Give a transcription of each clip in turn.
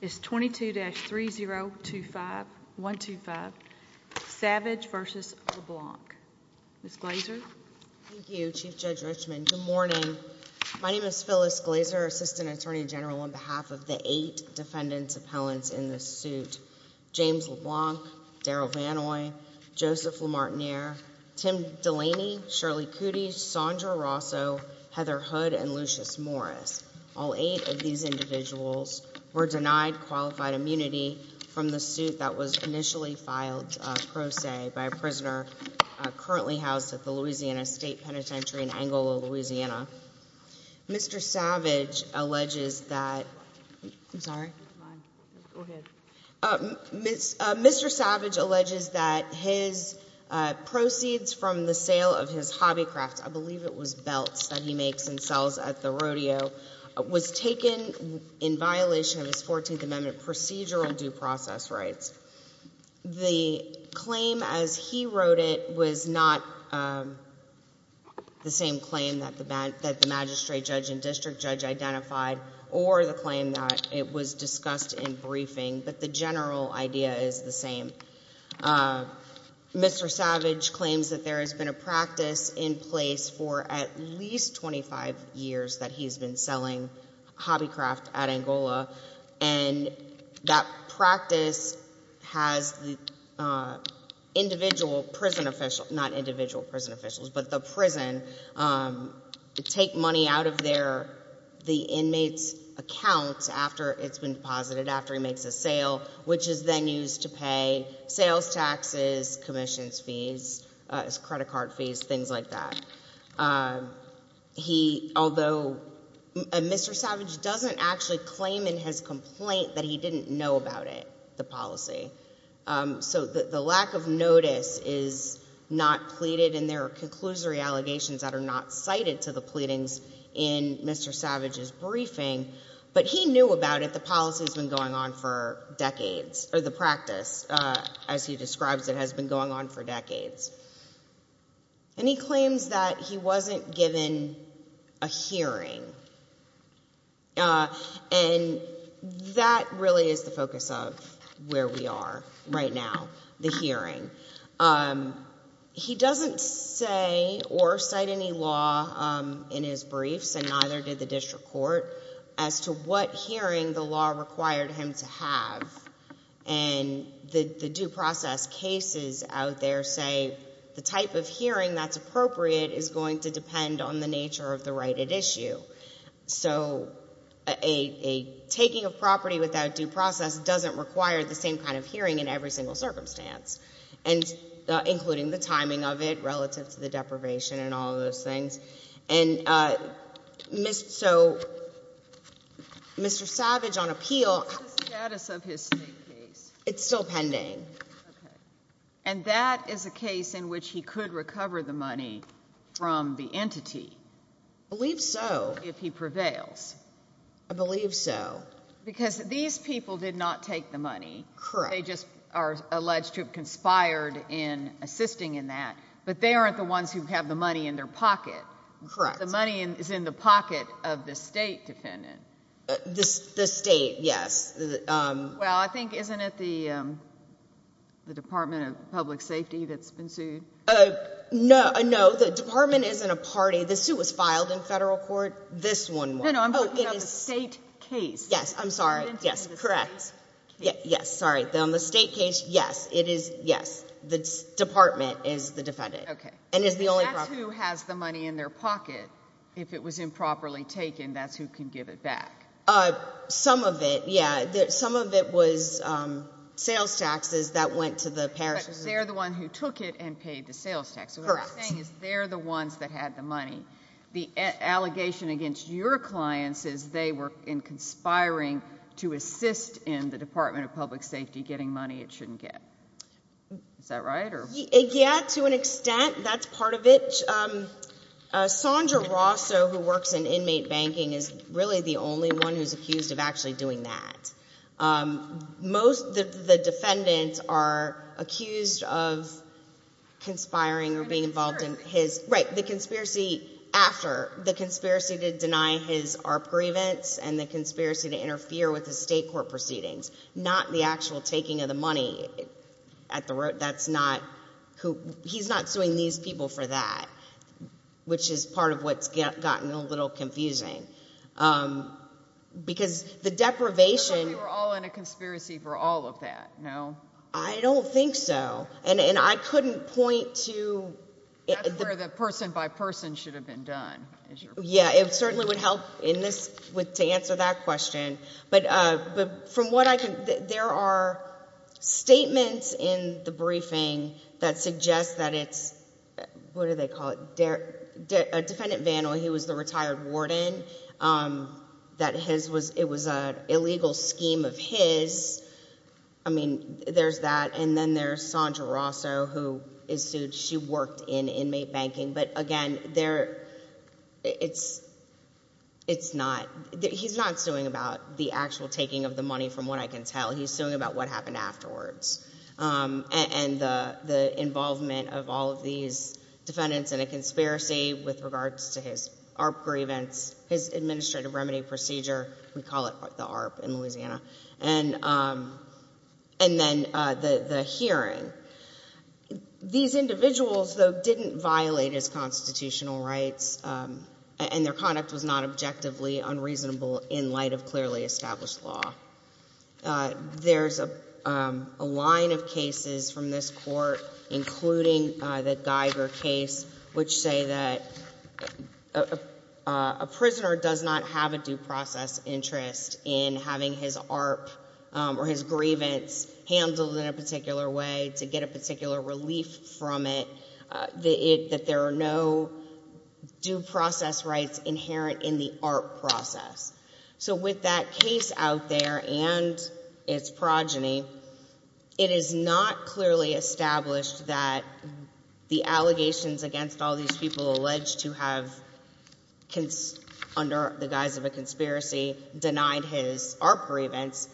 is 22-3025125 Savage v. LeBlanc. Ms. Glazer? Thank you, Chief Judge Richman. Good morning. My name is Phyllis Glazer, Assistant Attorney General, on behalf of the eight defendants appellants in this suit. James LeBlanc, Daryl Vannoy, Joseph Lamartiniere, Tim Delaney, Shirley Cootie, Sondra Rosso, Heather Hood, and Lucius Morris. All eight of these individuals were denied qualified immunity from the suit that was initially filed pro se by a prisoner currently housed at the Louisiana State Penitentiary in Angola, Louisiana. Mr. Savage alleges that, I'm sorry, Mr. Savage alleges that his proceeds from the sale of his rodeo was taken in violation of his 14th Amendment procedural due process rights. The claim as he wrote it was not the same claim that the magistrate judge and district judge identified or the claim that it was discussed in briefing, but the general idea is the same. Mr. Savage claims that there has been a practice in Angola for at least 25 years that he's been selling hobby craft at Angola, and that practice has the individual prison officials, not individual prison officials, but the prison take money out of their the inmates accounts after it's been deposited, after he makes a sale, which is then used to pay sales taxes, commissions fees, credit card fees, things like that. He, although, Mr. Savage doesn't actually claim in his complaint that he didn't know about it, the policy, so the lack of notice is not pleaded, and there are conclusory allegations that are not cited to the pleadings in Mr. Savage's briefing, but he knew about it. The policy has been going on for decades, or the practice, as he describes it, has been going on for decades, and he claims that he wasn't given a hearing, and that really is the focus of where we are right now, the hearing. He doesn't say or cite any law in his briefs, and neither did the district court, as to what hearing the due process cases out there say the type of hearing that's appropriate is going to depend on the nature of the right at issue, so a taking of property without due process doesn't require the same kind of hearing in every single circumstance, and including the timing of it relative to the deprivation and all of those things, and so Mr. Savage on appeal, it's still pending, and that is a case in which he could recover the money from the entity, I believe so, if he prevails, I believe so, because these people did not take the money, they just are alleged to have conspired in assisting in that, but they aren't the ones who have the money in their pocket, the money is in the pocket of the state defendant, the state, yes, well, I think, isn't it the Department of Public Safety that's been sued? No, no, the department isn't a party, the suit was filed in federal court, this one wasn't. No, no, I'm talking about the state case. Yes, I'm sorry, yes, correct, yes, sorry, on the state case, yes, it is, yes, the department is the defendant, and is the only property. Who has the money in their pocket, if it was improperly taken, that's who can give it back? Some of it, yes, some of it was sales taxes that went to the parishes. They're the ones who took it and paid the sales tax, what I'm saying is they're the ones that had the money, the allegation against your clients is they were conspiring to assist in the Department of Public Safety getting money it shouldn't get, is that right? Yes, to an extent, that's part of it. Sondra Rosso, who works in inmate banking, is really the only one who's accused of actually doing that. Most of the defendants are accused of conspiring or being involved in his, right, the conspiracy after, the conspiracy to deny his ARP grievance and the conspiracy to interfere with the state court proceedings, not the actual taking of the money at the for that, which is part of what's gotten a little confusing, because the deprivation You're all in a conspiracy for all of that, no? I don't think so, and I couldn't point to That's where the person by person should have been done. Yeah, it certainly would help in this, to answer that question, but from what I can, there are statements in the briefing that suggest that it's, what do they call it, a defendant vandal, he was the retired warden, that it was an illegal scheme of his, I mean, there's that, and then there's Sondra Rosso, who is sued, she worked in inmate banking, but again, it's not, he's not suing about the actual taking of the money, from what I can tell, he's suing about what happened afterwards, and the involvement of all of these defendants in a conspiracy with regards to his ARP grievance, his administrative remedy procedure, we call it the ARP in Louisiana, and then the hearing. These individuals, though, didn't violate his constitutional rights, and their conduct was not objectively unreasonable in light of clearly established law. There's a line of cases from this court, including the Geiger case, which say that a prisoner does not have a due process interest in having his ARP or his grievance handled in a particular way, to get a particular relief from it, that there are no due process rights inherent in the ARP process. So with that case out there, and its progeny, it is not clearly established that the allegations against all these people alleged to have, under the guise of a conspiracy, denied his ARP grievance,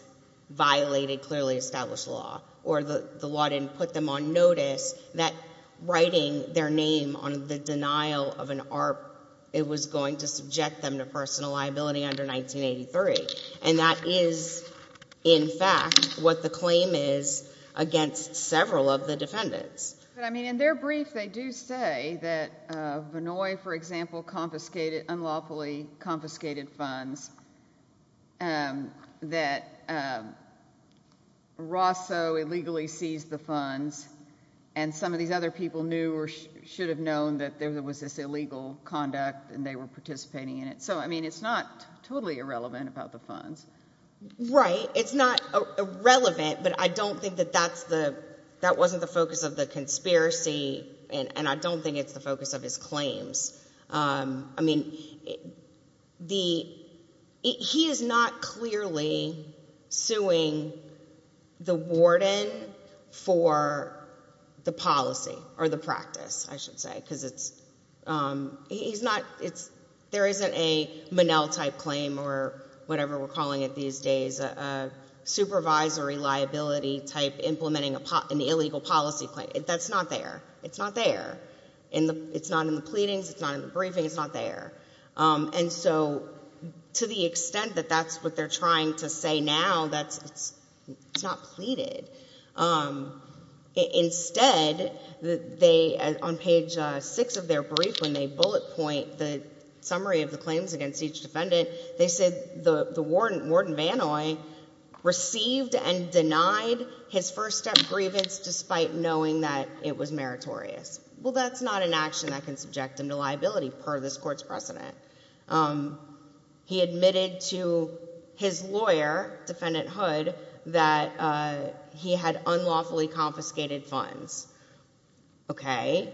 violated clearly established law, or the law didn't put them on notice that writing their name on the denial of an ARP, it was going to subject them to personal liability under 1983. And that is, in fact, what the claim is against several of the defendants. But, I mean, in their brief, they do say that Vannoy, for example, confiscated, unlawfully confiscated funds, that Rosso illegally seized the funds, and some of these other people knew or should have known that there was this illegal conduct, and they were participating in it. So, I mean, it's not totally irrelevant about the funds. Right. It's not irrelevant, but I don't think that that's the, that wasn't the focus of the conspiracy, and I don't think it's the focus of his claims. I mean, the, he is not in practice, I should say, because it's, he's not, it's, there isn't a Monell-type claim or whatever we're calling it these days, a supervisory liability type implementing a, an illegal policy claim. That's not there. It's not there. In the, it's not in the pleadings, it's not in the briefing, it's not there. And so, to the extent that that's what they're they, on page six of their brief, when they bullet point the summary of the claims against each defendant, they said the, the warden, Warden Vannoy, received and denied his first-step grievance despite knowing that it was meritorious. Well, that's not an action that can subject him to liability, per this court's precedent. He admitted to his lawyer, Defendant Hood, that he had unlawfully confiscated funds. Okay.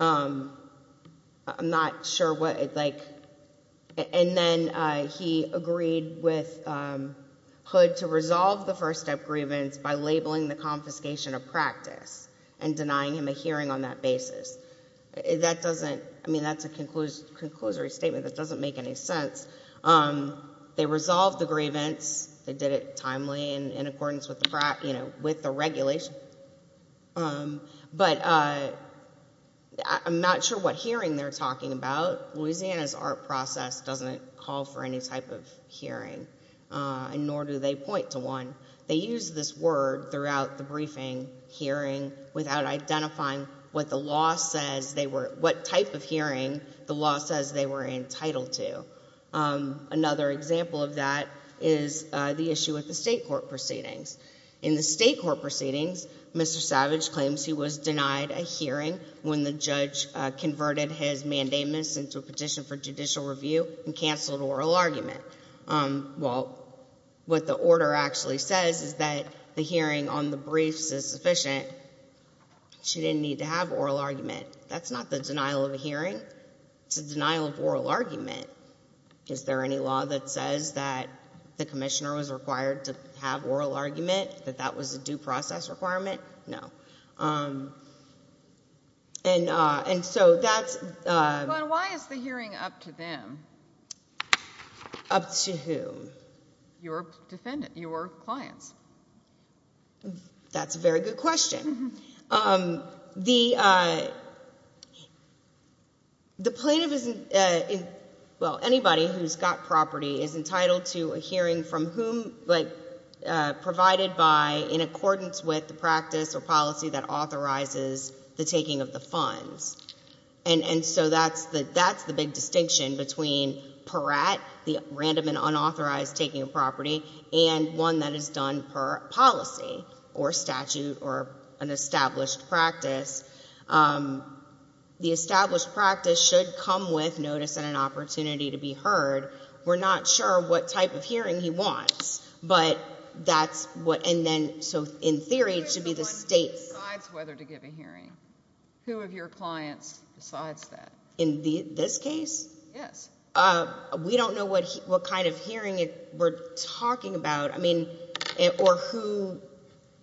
I'm not sure what, like, and then he agreed with Hood to resolve the first-step grievance by labeling the confiscation a practice and denying him a hearing on that basis. That doesn't, I mean, that's a conclusory statement that doesn't make any sense. They resolved the grievance. They did it timely and in accordance with the, you know, with the regulation. But, I'm not sure what hearing they're talking about. Louisiana's art process doesn't call for any type of hearing, nor do they point to one. They use this word throughout the briefing, hearing, without identifying what type of hearing the law says they were entitled to. Another example of that is the issue with the state court proceedings. In the state court proceedings, Mr. Savage claims he was denied a hearing when the judge converted his mandamus into a petition for judicial review and canceled oral argument. Well, what the order actually says is that the hearing on the briefs is sufficient. She didn't need to have oral argument. That's not the denial of a hearing. It's a denial of oral argument. Is there any law that says that the commissioner was required to have oral argument, that that was a due process requirement? No. And so that's... But why is the hearing up to them? Up to whom? Your defendant, your clients. That's a very good question. The plaintiff is... well, anybody who's got property is entitled to a hearing from whom, like, provided by, in accordance with the practice or policy that authorizes the taking of the funds. And so that's the big distinction between per at, the random and unauthorized taking of property, and one that is done per policy or statute or an established practice. The established practice should come with notice and an opportunity to be heard. We're not sure what type of hearing he wants, but that's what... and then, so in theory, it should be the state... Who is the one who decides whether to give a hearing? Who of your clients decides that? In this case? Yes. We don't know what kind of hearing we're talking about, I mean, or who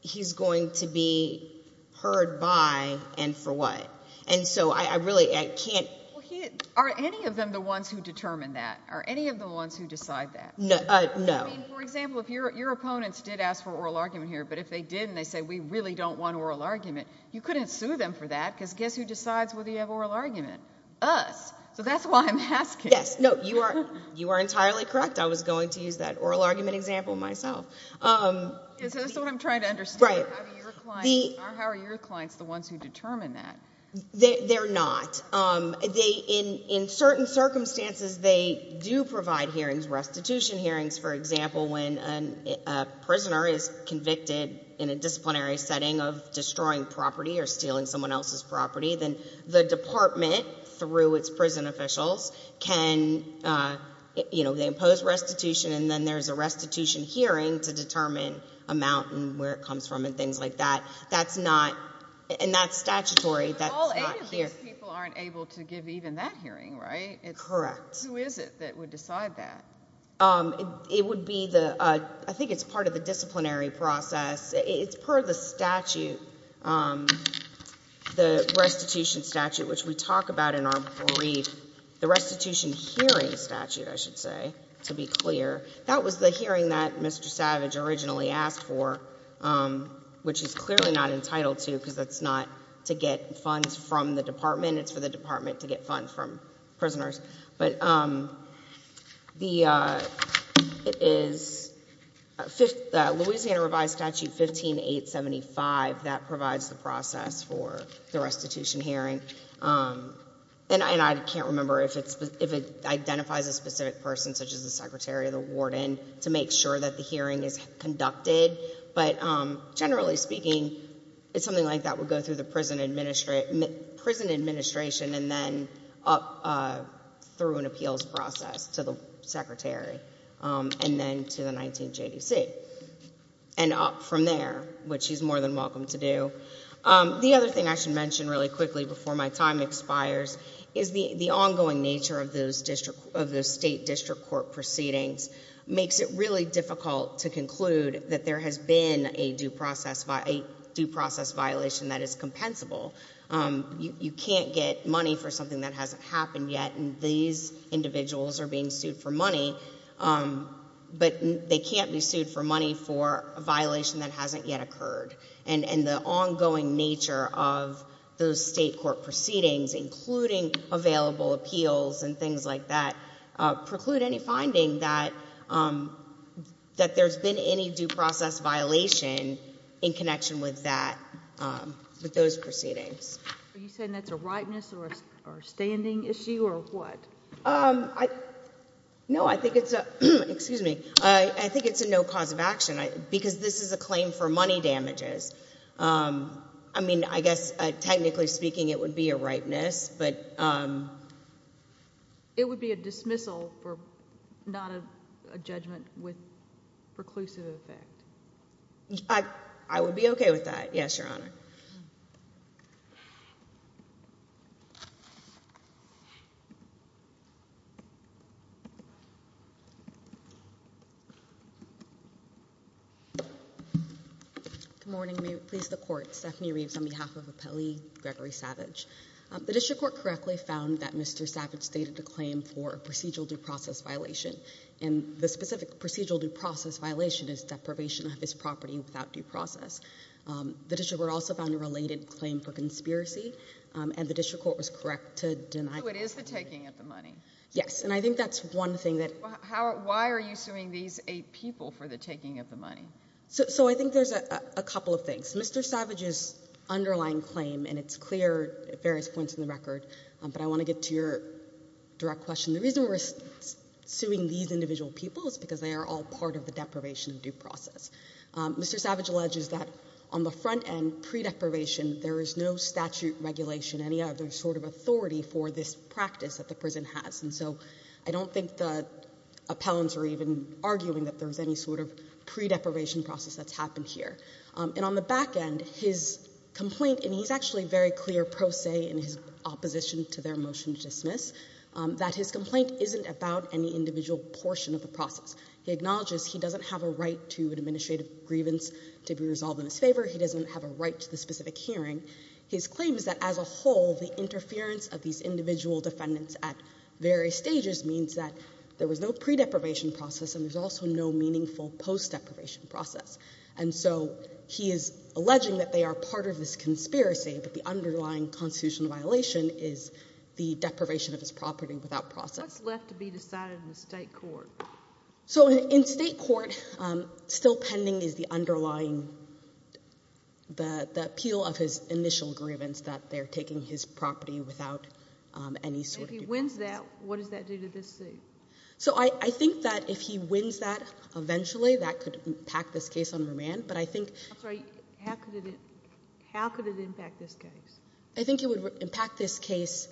he's going to be heard by and for what. And so I really, I can't... Are any of them the ones who determine that? Are any of the ones who decide that? No. I mean, for example, if your opponents did ask for oral argument here, but if they didn't, they said, we really don't want oral argument, you couldn't sue them for that, because guess who decides whether you have oral argument? Us. So that's why I'm asking. Yes. No, you are entirely correct. I was going to use that oral argument example myself. Yes, that's what I'm trying to understand. How are your clients the ones who determine that? They're not. In certain circumstances, they do provide hearings, restitution hearings. For example, when a prisoner is convicted in a disciplinary setting of destroying property or stealing someone else's property, then the department, through its prison officials, can, you know, they impose restitution, and then there's a restitution hearing to determine a mountain, where it comes from, and things like that. That's not... and that's statutory. All eight of these people aren't able to give even that hearing, right? Correct. Who is it that would decide that? It would be the... I think it's part of the disciplinary process. It's per the statute, the restitution statute, which we talk about in our brief. The restitution hearing statute, I should say, to be clear, that was the hearing that Mr. Savage originally asked for, which is clearly not entitled to, because that's not to get funds from the department. It's for the department to get funds from prisoners. But it is Louisiana Revised Statute 15.875 that provides the process for the restitution hearing. And I can't remember if it identifies a specific person, such as the secretary or the warden, to make sure that the hearing is conducted. But generally speaking, it's something like that would go through the prison administration and then up through an appeals process to the secretary and then to the 19th JDC and up from there, which he's more than welcome to do. The other thing I should mention really quickly before my time expires is the ongoing nature of those state district court proceedings makes it really difficult to conclude that there has been a due process violation that is compensable. You can't get money for something that hasn't happened yet, and these individuals are being sued for money, but they can't be sued for money for a violation that hasn't yet occurred. And the ongoing nature of those state court proceedings, including available appeals and things like that, preclude any due process violation in connection with that, with those proceedings. Are you saying that's a ripeness or a standing issue or what? No, I think it's a no cause of action, because this is a claim for money damages. I mean, I guess technically speaking, it would be a ripeness. It would be a dismissal, not a judgment with preclusive effect. I would be okay with that, yes, Your Honor. Good morning. May it please the Court. Stephanie Reeves on behalf of Appellee Gregory Savage. The district court correctly found that Mr. Savage stated a claim for a procedural due process violation, and the specific procedural due process violation is deprivation of his property without due process. The district court also found a related claim for conspiracy, and the district court was correct to deny... So it is the taking of the money? Yes, and I think that's one thing that... Why are you suing these eight people for the taking of the money? So I think there's a couple of things. Mr. Savage's underlying claim, and it's clear at various points in the record, but I want to get to your direct question. The reason we're suing these individual people is because they are all part of the deprivation of due process. Mr. Savage alleges that on the front end, pre-deprivation, there is no statute regulation, any other sort of authority for this practice that the prison has, and so I don't think the appellants are even arguing that there's any sort of pre-deprivation process that's happened here. And on the back end, his complaint, and he's actually very clear pro se in his opposition to their motion to dismiss, that his complaint isn't about any individual portion of the process. He acknowledges he doesn't have a right to an administrative grievance to be resolved in his favor. He doesn't have a right to the specific hearing. His claim is that as a whole, the interference of these individual defendants at various stages means that there was no pre-deprivation process and there's also no meaningful post-deprivation process. And so he is alleging that they are part of this conspiracy, but the underlying constitutional violation is the deprivation of his property without process. What's left to be decided in the state court? So in state court, still pending is the underlying, the appeal of his initial grievance that they're taking his property. And if he wins that, what does that do to this suit? So I think that if he wins that eventually, that could impact this case on remand. But I think I'm sorry, how could it impact this case? I think it would impact this case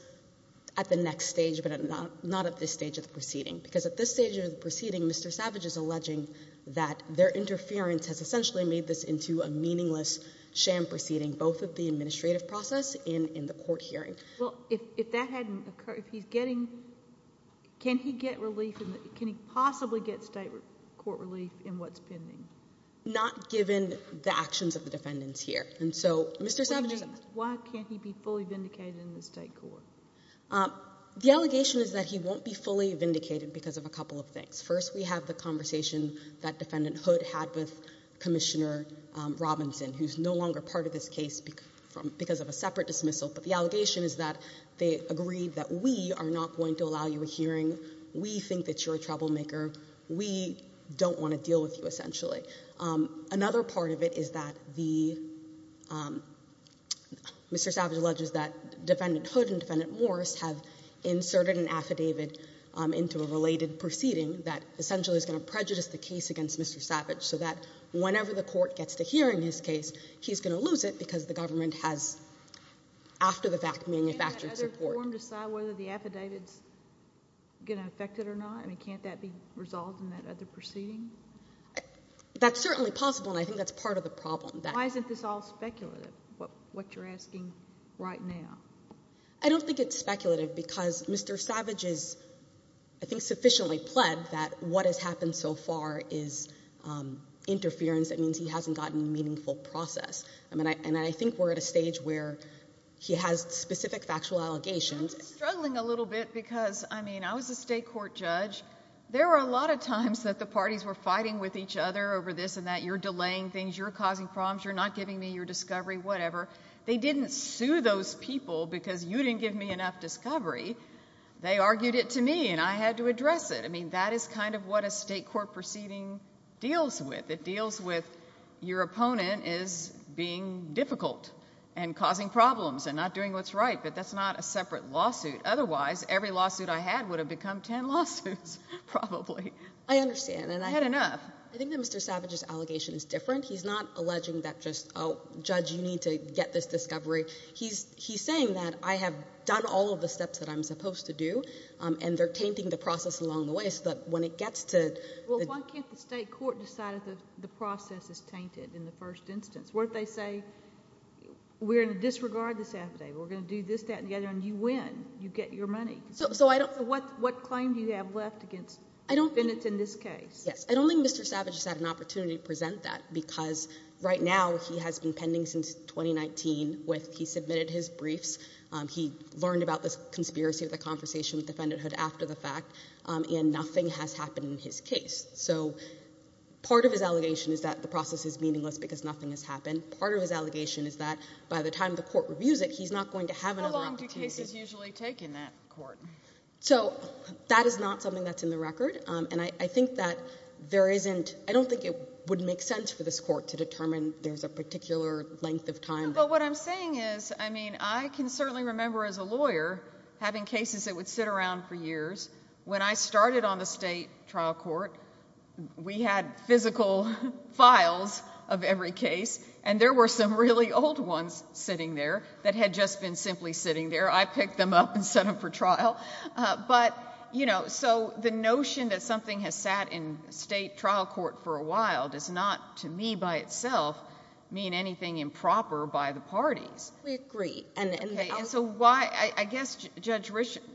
at the next stage, but not at this stage of the proceeding. Because at this stage of the proceeding, Mr. Savage is alleging that their interference has essentially made this into a meaningless sham proceeding, both at the administrative process and in the court hearing. Well, if that hadn't occurred, if he's getting, can he get relief, can he possibly get state court relief in what's pending? Not given the actions of the defendants here. And so Mr. Savage is Why can't he be fully vindicated in the state court? The allegation is that he won't be fully vindicated because of a couple of things. First, we have the conversation that Defendant Hood had with Commissioner Robinson, who's no longer part of this case because of a separate dismissal. But the allegation is that they agreed that we are not going to allow you a hearing. We think that you're a troublemaker. We don't want to deal with you, essentially. Another part of it is that the Mr. Savage alleges that Defendant Hood and Defendant Morris have inserted an affidavit into a related proceeding that essentially is going to prejudice the case against Mr. Savage so that whenever the court gets to hearing his case, he's going to lose it because the government has, after the fact, manufactured support. Can that other forum decide whether the affidavit is going to affect it or not? I mean, can't that be resolved in that other proceeding? That's certainly possible, and I think that's part of the problem. Why isn't this all speculative, what you're asking right now? I don't think it's speculative because Mr. Savage is, I think, sufficiently pled that what has happened so far is interference. That means he hasn't gotten a meaningful process. And I think we're at a stage where he has specific factual allegations. I'm struggling a little bit because, I mean, I was a state court judge. There were a lot of times that the parties were fighting with each other over this and that. You're delaying things. You're causing problems. You're not giving me your discovery, whatever. They didn't sue those people because you didn't give me enough discovery. They argued it to me, and I had to address it. I mean, that is kind of what a state court proceeding deals with. It deals with your opponent is being difficult and causing problems and not doing what's right. But that's not a separate lawsuit. Otherwise, every lawsuit I had would have become ten lawsuits, probably. I understand. I had enough. I think that Mr. Savage's allegation is different. He's not alleging that just, oh, judge, you need to get this discovery. He's saying that I have done all of the steps that I'm supposed to do, and they're tainting the process along the way so that when it gets to— Well, why can't the state court decide if the process is tainted in the first instance? What if they say, we're going to disregard this affidavit. We're going to do this, that, and the other, and you win. You get your money. So I don't— So what claim do you have left against defendants in this case? Yes. I don't think Mr. Savage has had an opportunity to present that because right now he has been pending since 2019. He submitted his briefs. He learned about the conspiracy of the conversation with the defendanthood after the fact, and nothing has happened in his case. So part of his allegation is that the process is meaningless because nothing has happened. Part of his allegation is that by the time the court reviews it, he's not going to have another opportunity. How long do cases usually take in that court? So that is not something that's in the record, and I think that there isn't—I don't think it would make sense for this court to determine there's a particular length of time. But what I'm saying is, I mean, I can certainly remember as a lawyer having cases that would sit around for years. When I started on the state trial court, we had physical files of every case, and there were some really old ones sitting there that had just been simply sitting there. I picked them up and set them for trial. But, you know, so the notion that something has sat in state trial court for a while does not, to me by itself, mean anything improper by the parties. We agree. And so why—I guess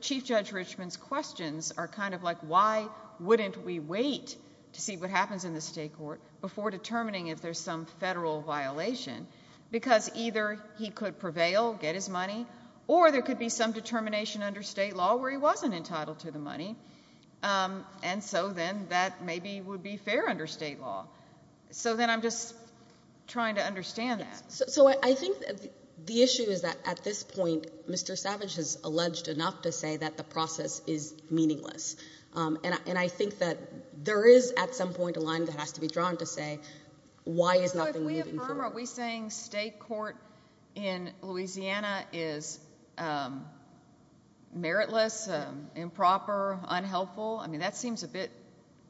Chief Judge Richmond's questions are kind of like, why wouldn't we wait to see what happens in the state court before determining if there's some federal violation? Because either he could prevail, get his money, or there could be some determination under state law where he wasn't entitled to the money, and so then that maybe would be fair under state law. So then I'm just trying to understand that. So I think the issue is that at this point, Mr. Savage has alleged enough to say that the process is meaningless, and I think that there is at some point a line that has to be drawn to say why is nothing moving forward. So are we saying state court in Louisiana is meritless, improper, unhelpful? I mean that seems a bit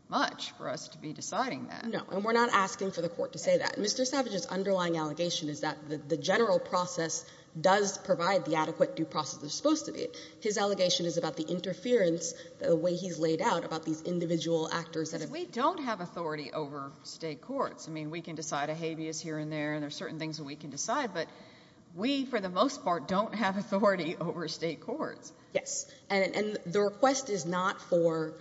much for us to be deciding that. No, and we're not asking for the court to say that. Mr. Savage's underlying allegation is that the general process does provide the adequate due process it's supposed to be. His allegation is about the interference, the way he's laid out about these individual actors that have— We don't have authority over state courts. I mean we can decide a habeas here and there, and there are certain things that we can decide, but we, for the most part, don't have authority over state courts. Yes, and the request is not for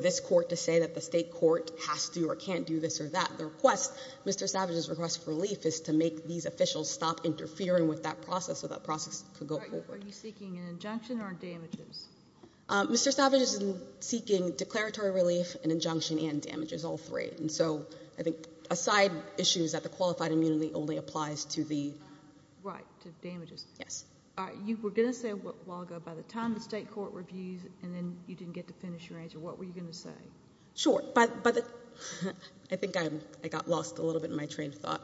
this court to say that the state court has to or can't do this or that. The request, Mr. Savage's request for relief, is to make these officials stop interfering with that process so that process could go forward. Are you seeking an injunction or damages? Mr. Savage is seeking declaratory relief, an injunction, and damages, all three. And so I think a side issue is that the qualified immunity only applies to the— Right, to damages. Yes. You were going to say a while ago, by the time the state court reviews and then you didn't get to finish your answer, what were you going to say? Sure. I think I got lost a little bit in my train of thought,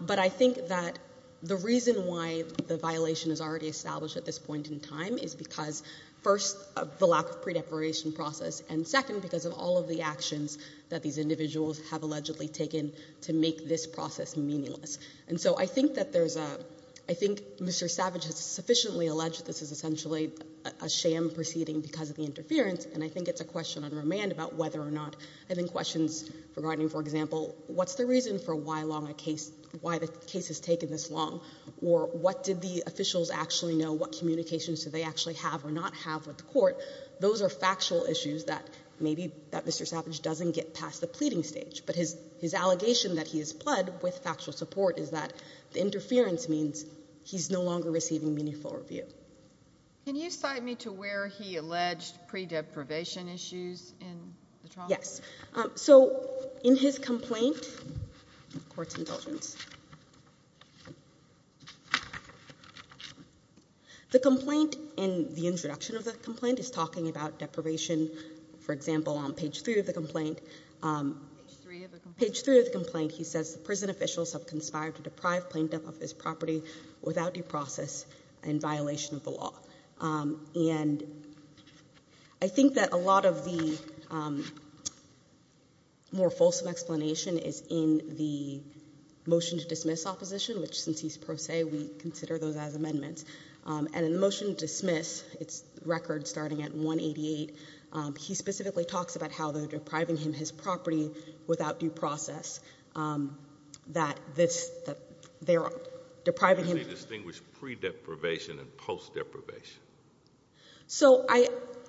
but I think that the reason why the violation is already established at this point in time is because, first, of the lack of pre-deparation process, and second, because of all of the actions that these individuals have allegedly taken to make this process meaningless. And so I think that there's a—I think Mr. Savage has sufficiently alleged this is essentially a sham proceeding because of the interference, and I think it's a question on remand about whether or not—and then questions regarding, for example, what's the reason for why the case has taken this long, or what did the officials actually know? What communications do they actually have or not have with the court? Those are factual issues that maybe Mr. Savage doesn't get past the pleading stage, but his allegation that he is pled with factual support is that the interference means he's no longer receiving meaningful review. Can you cite me to where he alleged pre-deprivation issues in the trial? Yes. So in his complaint—court's indulgence—the complaint and the introduction of the complaint is talking about deprivation. For example, on page 3 of the complaint— Page 3 of the complaint. Page 3 of the complaint, he says, the prison officials have conspired to deprive plaintiff of his property without due process in violation of the law. And I think that a lot of the more fulsome explanation is in the motion to dismiss opposition, which since he's pro se, we consider those as amendments. And in the motion to dismiss, it's record starting at 188, he specifically talks about how they're depriving him his property without due process, that they're depriving him— So I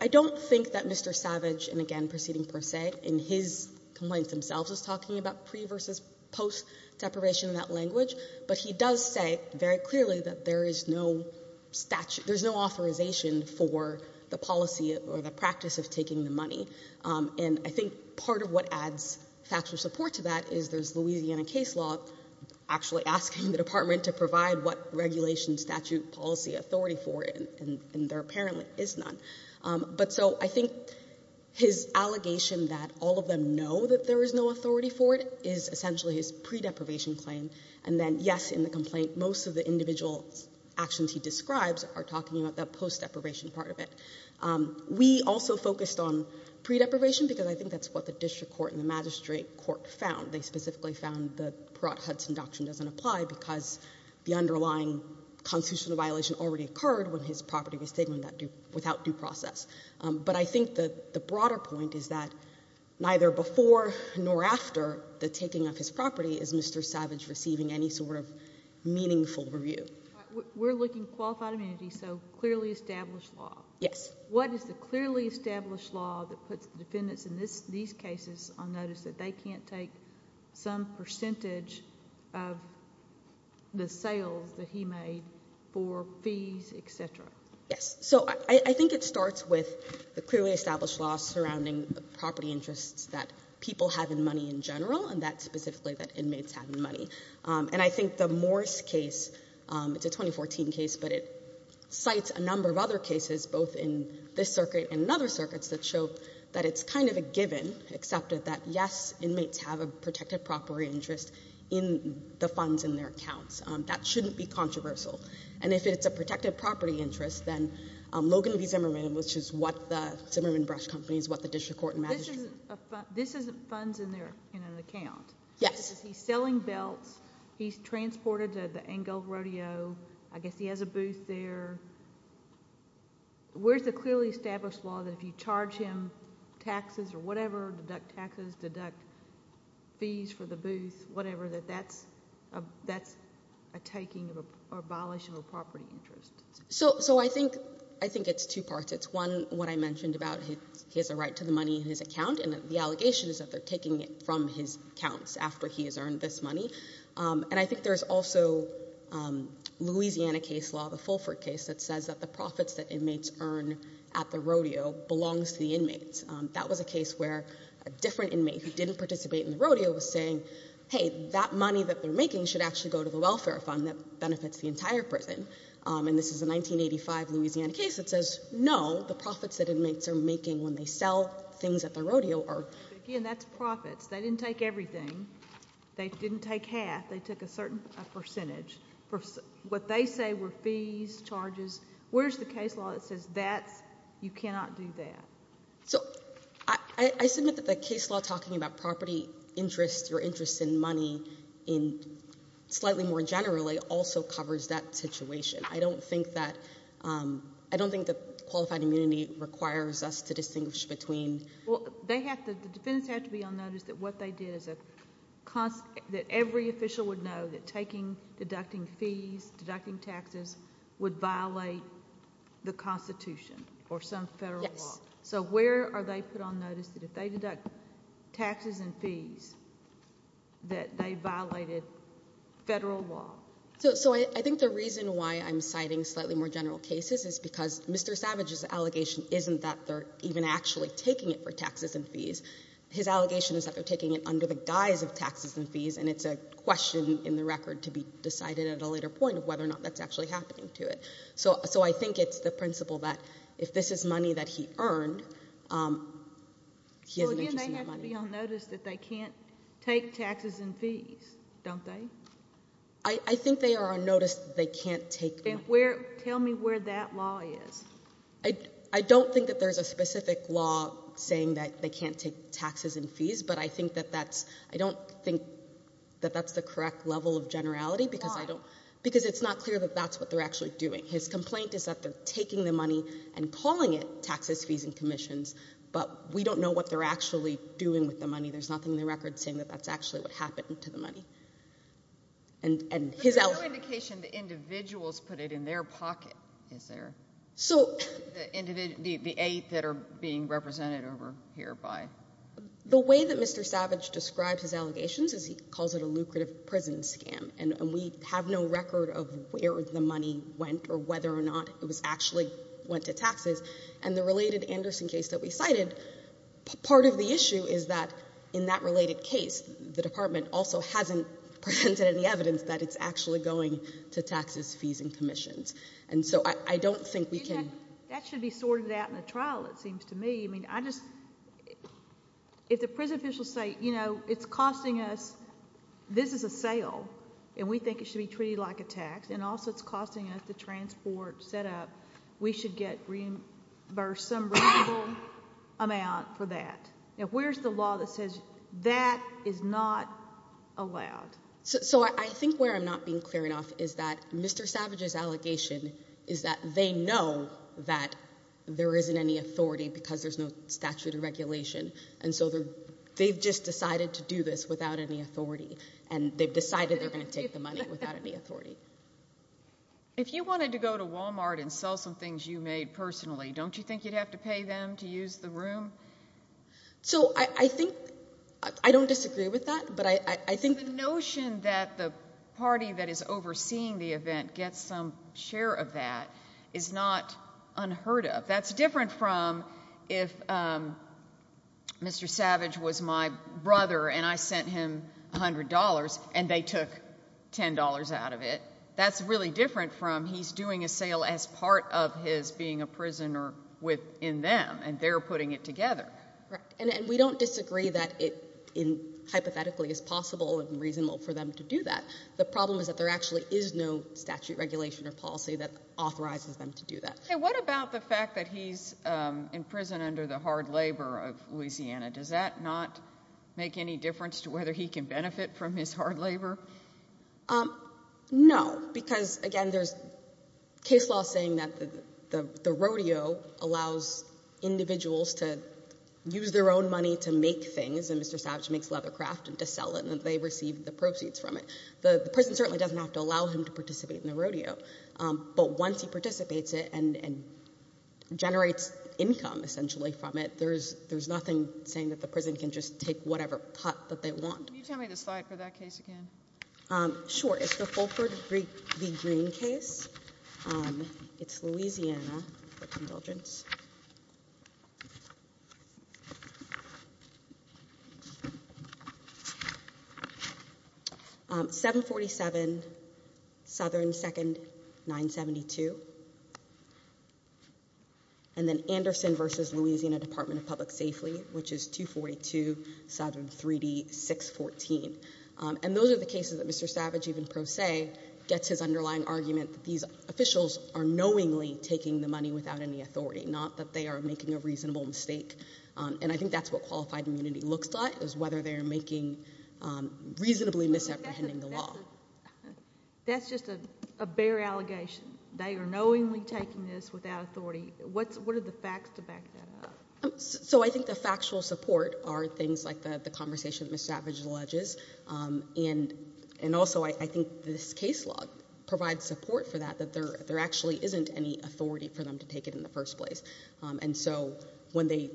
don't think that Mr. Savage, and again proceeding per se, in his complaints themselves, is talking about pre- versus post-deprivation in that language, but he does say very clearly that there is no authorization for the policy or the practice of taking the money. And I think part of what adds factual support to that is there's Louisiana case law actually asking the department to provide what regulation, statute, policy, authority for it, and there apparently is none. But so I think his allegation that all of them know that there is no authority for it is essentially his pre-deprivation claim. And then, yes, in the complaint, most of the individual actions he describes are talking about that post-deprivation part of it. We also focused on pre-deprivation because I think that's what the district court and the magistrate court found. They specifically found the Perot-Hudson doctrine doesn't apply because the underlying constitutional violation already occurred when his property was taken without due process. But I think the broader point is that neither before nor after the taking of his property is Mr. Savage receiving any sort of meaningful review. We're looking at qualified amenities, so clearly established law. Yes. What is the clearly established law that puts defendants in these cases on notice that they can't take some percentage of the sales that he made for fees, et cetera? Yes. So I think it starts with the clearly established law surrounding the property interests that people have in money in general and that specifically that inmates have in money. And I think the Morris case, it's a 2014 case, but it cites a number of other cases, both in this circuit and in other circuits that show that it's kind of a given, accepted, that, yes, inmates have a protected property interest in the funds in their accounts. That shouldn't be controversial. And if it's a protected property interest, then Logan v. Zimmerman, which is what the Zimmerman Brush Company is, what the district court and magistrate court— This isn't funds in an account. Yes. He's selling belts. He's transported to the Engel Rodeo. I guess he has a booth there. Where's the clearly established law that if you charge him taxes or whatever, deduct taxes, deduct fees for the booth, whatever, that that's a taking or a violation of a property interest? So I think it's two parts. It's, one, what I mentioned about he has a right to the money in his account, and the allegation is that they're taking it from his accounts after he has earned this money. And I think there's also Louisiana case law, the Fulford case, that says that the profits that inmates earn at the rodeo belongs to the inmates. That was a case where a different inmate who didn't participate in the rodeo was saying, hey, that money that they're making should actually go to the welfare fund that benefits the entire prison. And this is a 1985 Louisiana case that says, no, the profits that inmates are making when they sell things at the rodeo are. Again, that's profits. They didn't take everything. They didn't take half. They took a certain percentage. What they say were fees, charges. Where's the case law that says that's, you cannot do that? So I submit that the case law talking about property interest or interest in money in slightly more generally also covers that situation. I don't think that qualified immunity requires us to distinguish between. Well, the defendants have to be on notice that what they did is that every official would know that taking, deducting fees, deducting taxes would violate the Constitution or some federal law. Yes. So where are they put on notice that if they deduct taxes and fees that they violated federal law? So I think the reason why I'm citing slightly more general cases is because Mr. Savage's allegation isn't that they're even actually taking it for taxes and fees. His allegation is that they're taking it under the guise of taxes and fees, and it's a question in the record to be decided at a later point of whether or not that's actually happening to it. So I think it's the principle that if this is money that he earned, he has an interest in that money. So again, they have to be on notice that they can't take taxes and fees, don't they? I think they are on notice that they can't take them. Tell me where that law is. I don't think that there's a specific law saying that they can't take taxes and fees, but I don't think that that's the correct level of generality. Why? Because it's not clear that that's what they're actually doing. His complaint is that they're taking the money and calling it taxes, fees, and commissions, but we don't know what they're actually doing with the money. There's nothing in the record saying that that's actually what happened to the money. But there's no indication the individuals put it in their pocket, is there? The eight that are being represented over here by. The way that Mr. Savage describes his allegations is he calls it a lucrative prison scam, and we have no record of where the money went or whether or not it actually went to taxes. And the related Anderson case that we cited, part of the issue is that in that related case, the department also hasn't presented any evidence that it's actually going to taxes, fees, and commissions. And so I don't think we can— That should be sorted out in a trial, it seems to me. I mean, I just—if the prison officials say, you know, it's costing us—this is a sale, and we think it should be treated like a tax, and also it's costing us the transport set up, we should get some reasonable amount for that. Where's the law that says that is not allowed? So I think where I'm not being clear enough is that Mr. Savage's allegation is that they know that there isn't any authority because there's no statute of regulation, and so they've just decided to do this without any authority, and they've decided they're going to take the money without any authority. If you wanted to go to Walmart and sell some things you made personally, don't you think you'd have to pay them to use the room? So I think—I don't disagree with that, but I think— The notion that the party that is overseeing the event gets some share of that is not unheard of. That's different from if Mr. Savage was my brother and I sent him $100 and they took $10 out of it. That's really different from he's doing a sale as part of his being a prisoner within them, and they're putting it together. Right, and we don't disagree that it hypothetically is possible and reasonable for them to do that. The problem is that there actually is no statute of regulation or policy that authorizes them to do that. What about the fact that he's in prison under the hard labor of Louisiana? Does that not make any difference to whether he can benefit from his hard labor? No, because, again, there's case law saying that the rodeo allows individuals to use their own money to make things, and Mr. Savage makes leather craft and to sell it, and they receive the proceeds from it. The prison certainly doesn't have to allow him to participate in the rodeo, but once he participates it and generates income, essentially, from it, there's nothing saying that the prison can just take whatever pot that they want. Can you tell me the slide for that case again? Sure. It's the Fulford v. Green case. It's Louisiana, for indulgence. 747, Southern, 2nd, 972, and then Anderson v. Louisiana Department of Public Safety, which is 242, Southern, 3D, 614. And those are the cases that Mr. Savage, even pro se, gets his underlying argument that these officials are knowingly taking the money without any authority, not that they are making a reasonable mistake. And I think that's what qualified immunity looks like, is whether they're making reasonably misapprehending the law. That's just a bare allegation. They are knowingly taking this without authority. What are the facts to back that up? So I think the factual support are things like the conversation that Mr. Savage alleges, and also, I think this case law provides support for that, that there actually isn't any authority for them to take it in the first place. And so when they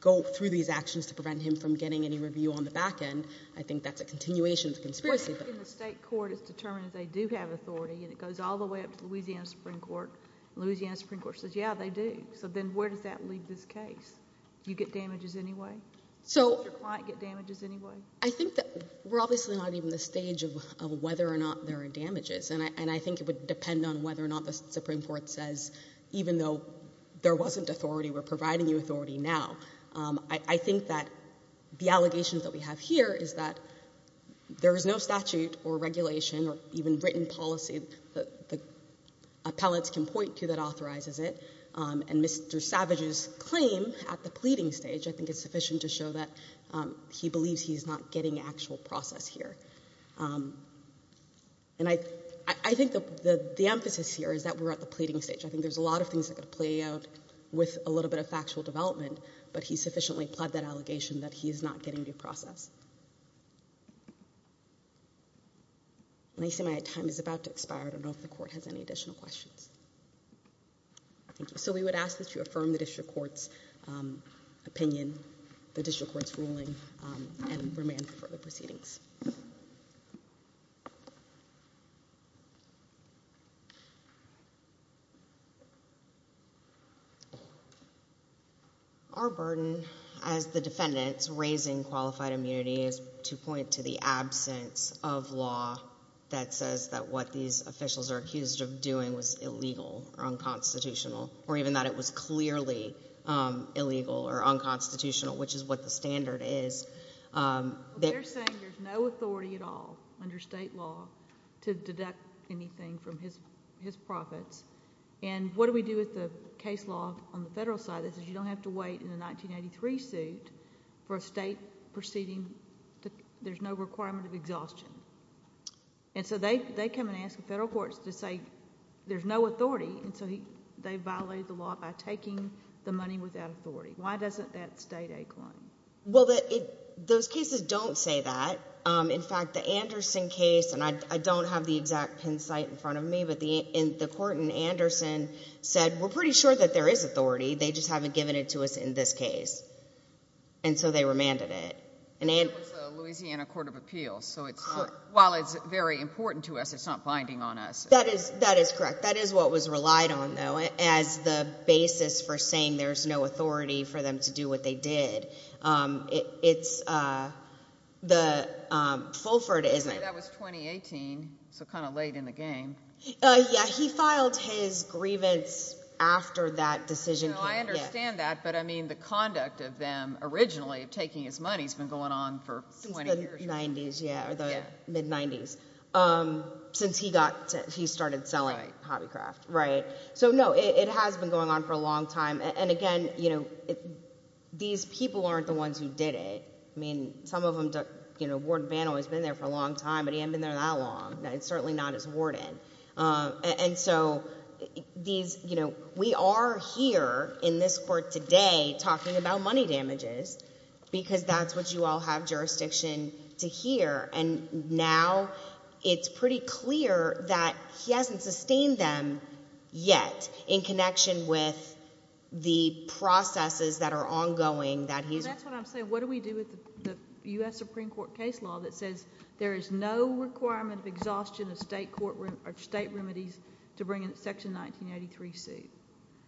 go through these actions to prevent him from getting any review on the back end, I think that's a continuation of the conspiracy theory. In the state court, it's determined that they do have authority, and it goes all the way up to the Louisiana Supreme Court. The Louisiana Supreme Court says, yeah, they do. So then where does that leave this case? Do you get damages anyway? Does your client get damages anyway? I think that we're obviously not even in the stage of whether or not there are damages. And I think it would depend on whether or not the Supreme Court says, even though there wasn't authority, we're providing you authority now. I think that the allegations that we have here is that there is no statute or regulation or even written policy that the appellates can point to that authorizes it. And Mr. Savage's claim at the pleading stage, I think, is sufficient to show that he believes he's not getting actual process here. And I think the emphasis here is that we're at the pleading stage. I think there's a lot of things that could play out with a little bit of factual development, but he sufficiently pled that allegation that he is not getting due process. And I see my time is about to expire. I don't know if the Court has any additional questions. Thank you. So we would ask that you affirm the district court's opinion, the district court's ruling, and remand for the proceedings. Our burden as the defendants raising qualified immunity is to point to the absence of law that says that what these officials are accused of doing was illegal or unconstitutional or even that it was clearly illegal or unconstitutional, which is what the standard is. They're saying there's no authority at all under state law to deduct anything from his profits. And what do we do with the case law on the federal side? It says you don't have to wait in the 1983 suit for a state proceeding. There's no requirement of exhaustion. And so they come and ask the federal courts to say there's no authority, and so they violate the law by taking the money without authority. Why doesn't that state a claim? Well, those cases don't say that. In fact, the Anderson case, and I don't have the exact pin site in front of me, but the court in Anderson said we're pretty sure that there is authority. They just haven't given it to us in this case, and so they remanded it. It was the Louisiana Court of Appeals, so while it's very important to us, it's not binding on us. That is correct. That is what was relied on, though, as the basis for saying there's no authority for them to do what they did. It's the Fulford, isn't it? That was 2018, so kind of late in the game. Yeah, he filed his grievance after that decision came. I understand that, but, I mean, the conduct of them originally of taking his money has been going on for 20 years. Since the 90s, yeah, or the mid-90s, since he started selling Hobbycraft. Right. So, no, it has been going on for a long time, and, again, these people aren't the ones who did it. I mean, some of them, you know, Warden Bannow has been there for a long time, but he hasn't been there that long, and certainly not as a warden, and so these, you know, we are here in this court today talking about money damages because that's what you all have jurisdiction to hear, and now it's pretty clear that he hasn't sustained them yet in connection with the processes that are ongoing that he's... There is no requirement of exhaustion of state remedies to bring in Section 1983C.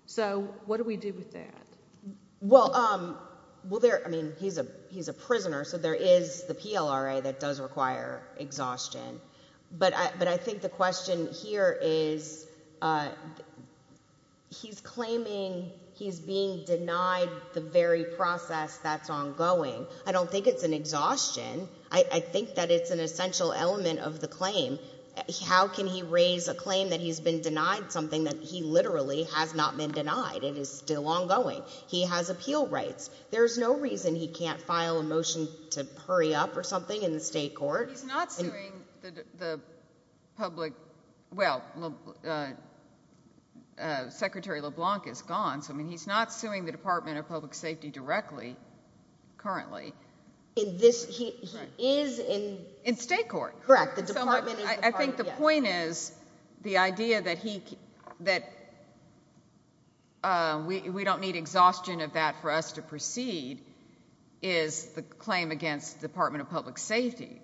So, what do we do with that? Well, there... I mean, he's a prisoner, so there is the PLRA that does require exhaustion, but I think the question here is he's claiming he's being denied the very process that's ongoing. I don't think it's an exhaustion. I think that it's an essential element of the claim. How can he raise a claim that he's been denied something that he literally has not been denied and is still ongoing? He has appeal rights. There's no reason he can't file a motion to hurry up or something in the state court. He's not suing the public... In this... he is in... In state court. Correct. The department... I think the point is the idea that we don't need exhaustion of that for us to proceed is the claim against the Department of Public Safety,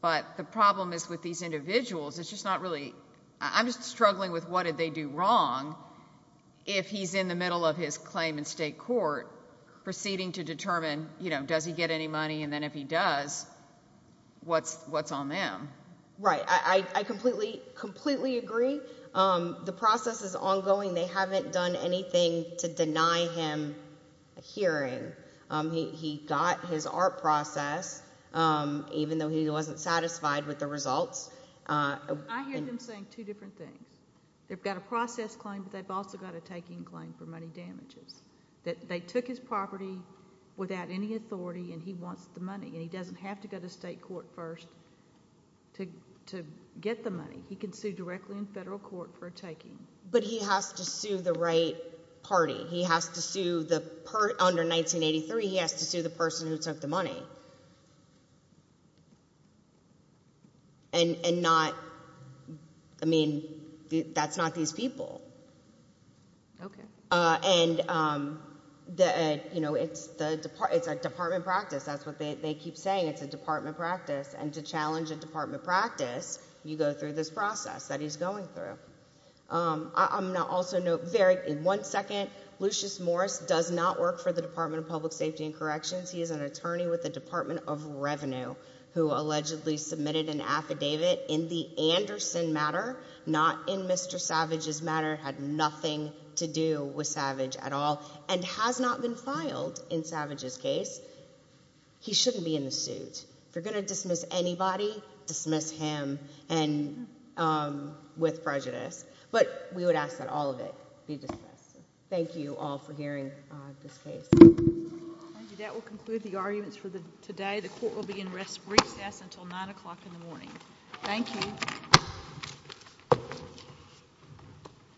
but the problem is with these individuals, it's just not really... I'm just struggling with what did they do wrong if he's in the middle of his claim in state court, proceeding to determine, you know, does he get any money, and then if he does, what's on them? Right. I completely agree. The process is ongoing. They haven't done anything to deny him a hearing. He got his art process, even though he wasn't satisfied with the results. I hear them saying two different things. They've got a process claim, but they've also got a taking claim for money damages. That they took his property without any authority, and he wants the money, and he doesn't have to go to state court first to get the money. He can sue directly in federal court for a taking. But he has to sue the right party. He has to sue the... under 1983, he has to sue the person who took the money. And not... I mean, that's not these people. Okay. And, you know, it's a department practice. That's what they keep saying. It's a department practice. And to challenge a department practice, you go through this process that he's going through. I'm going to also note, in one second, Lucius Morris does not work for the Department of Public Safety and Corrections. He is an attorney with the Department of Revenue who allegedly submitted an affidavit in the Anderson matter, not in Mr. Savage's matter, had nothing to do with Savage at all, and has not been filed in Savage's case. He shouldn't be in the suit. If you're going to dismiss anybody, dismiss him with prejudice. But we would ask that all of it be dismissed. Thank you all for hearing this case. Thank you. That will conclude the arguments for today. The court will be in recess until 9 o'clock in the morning. Thank you.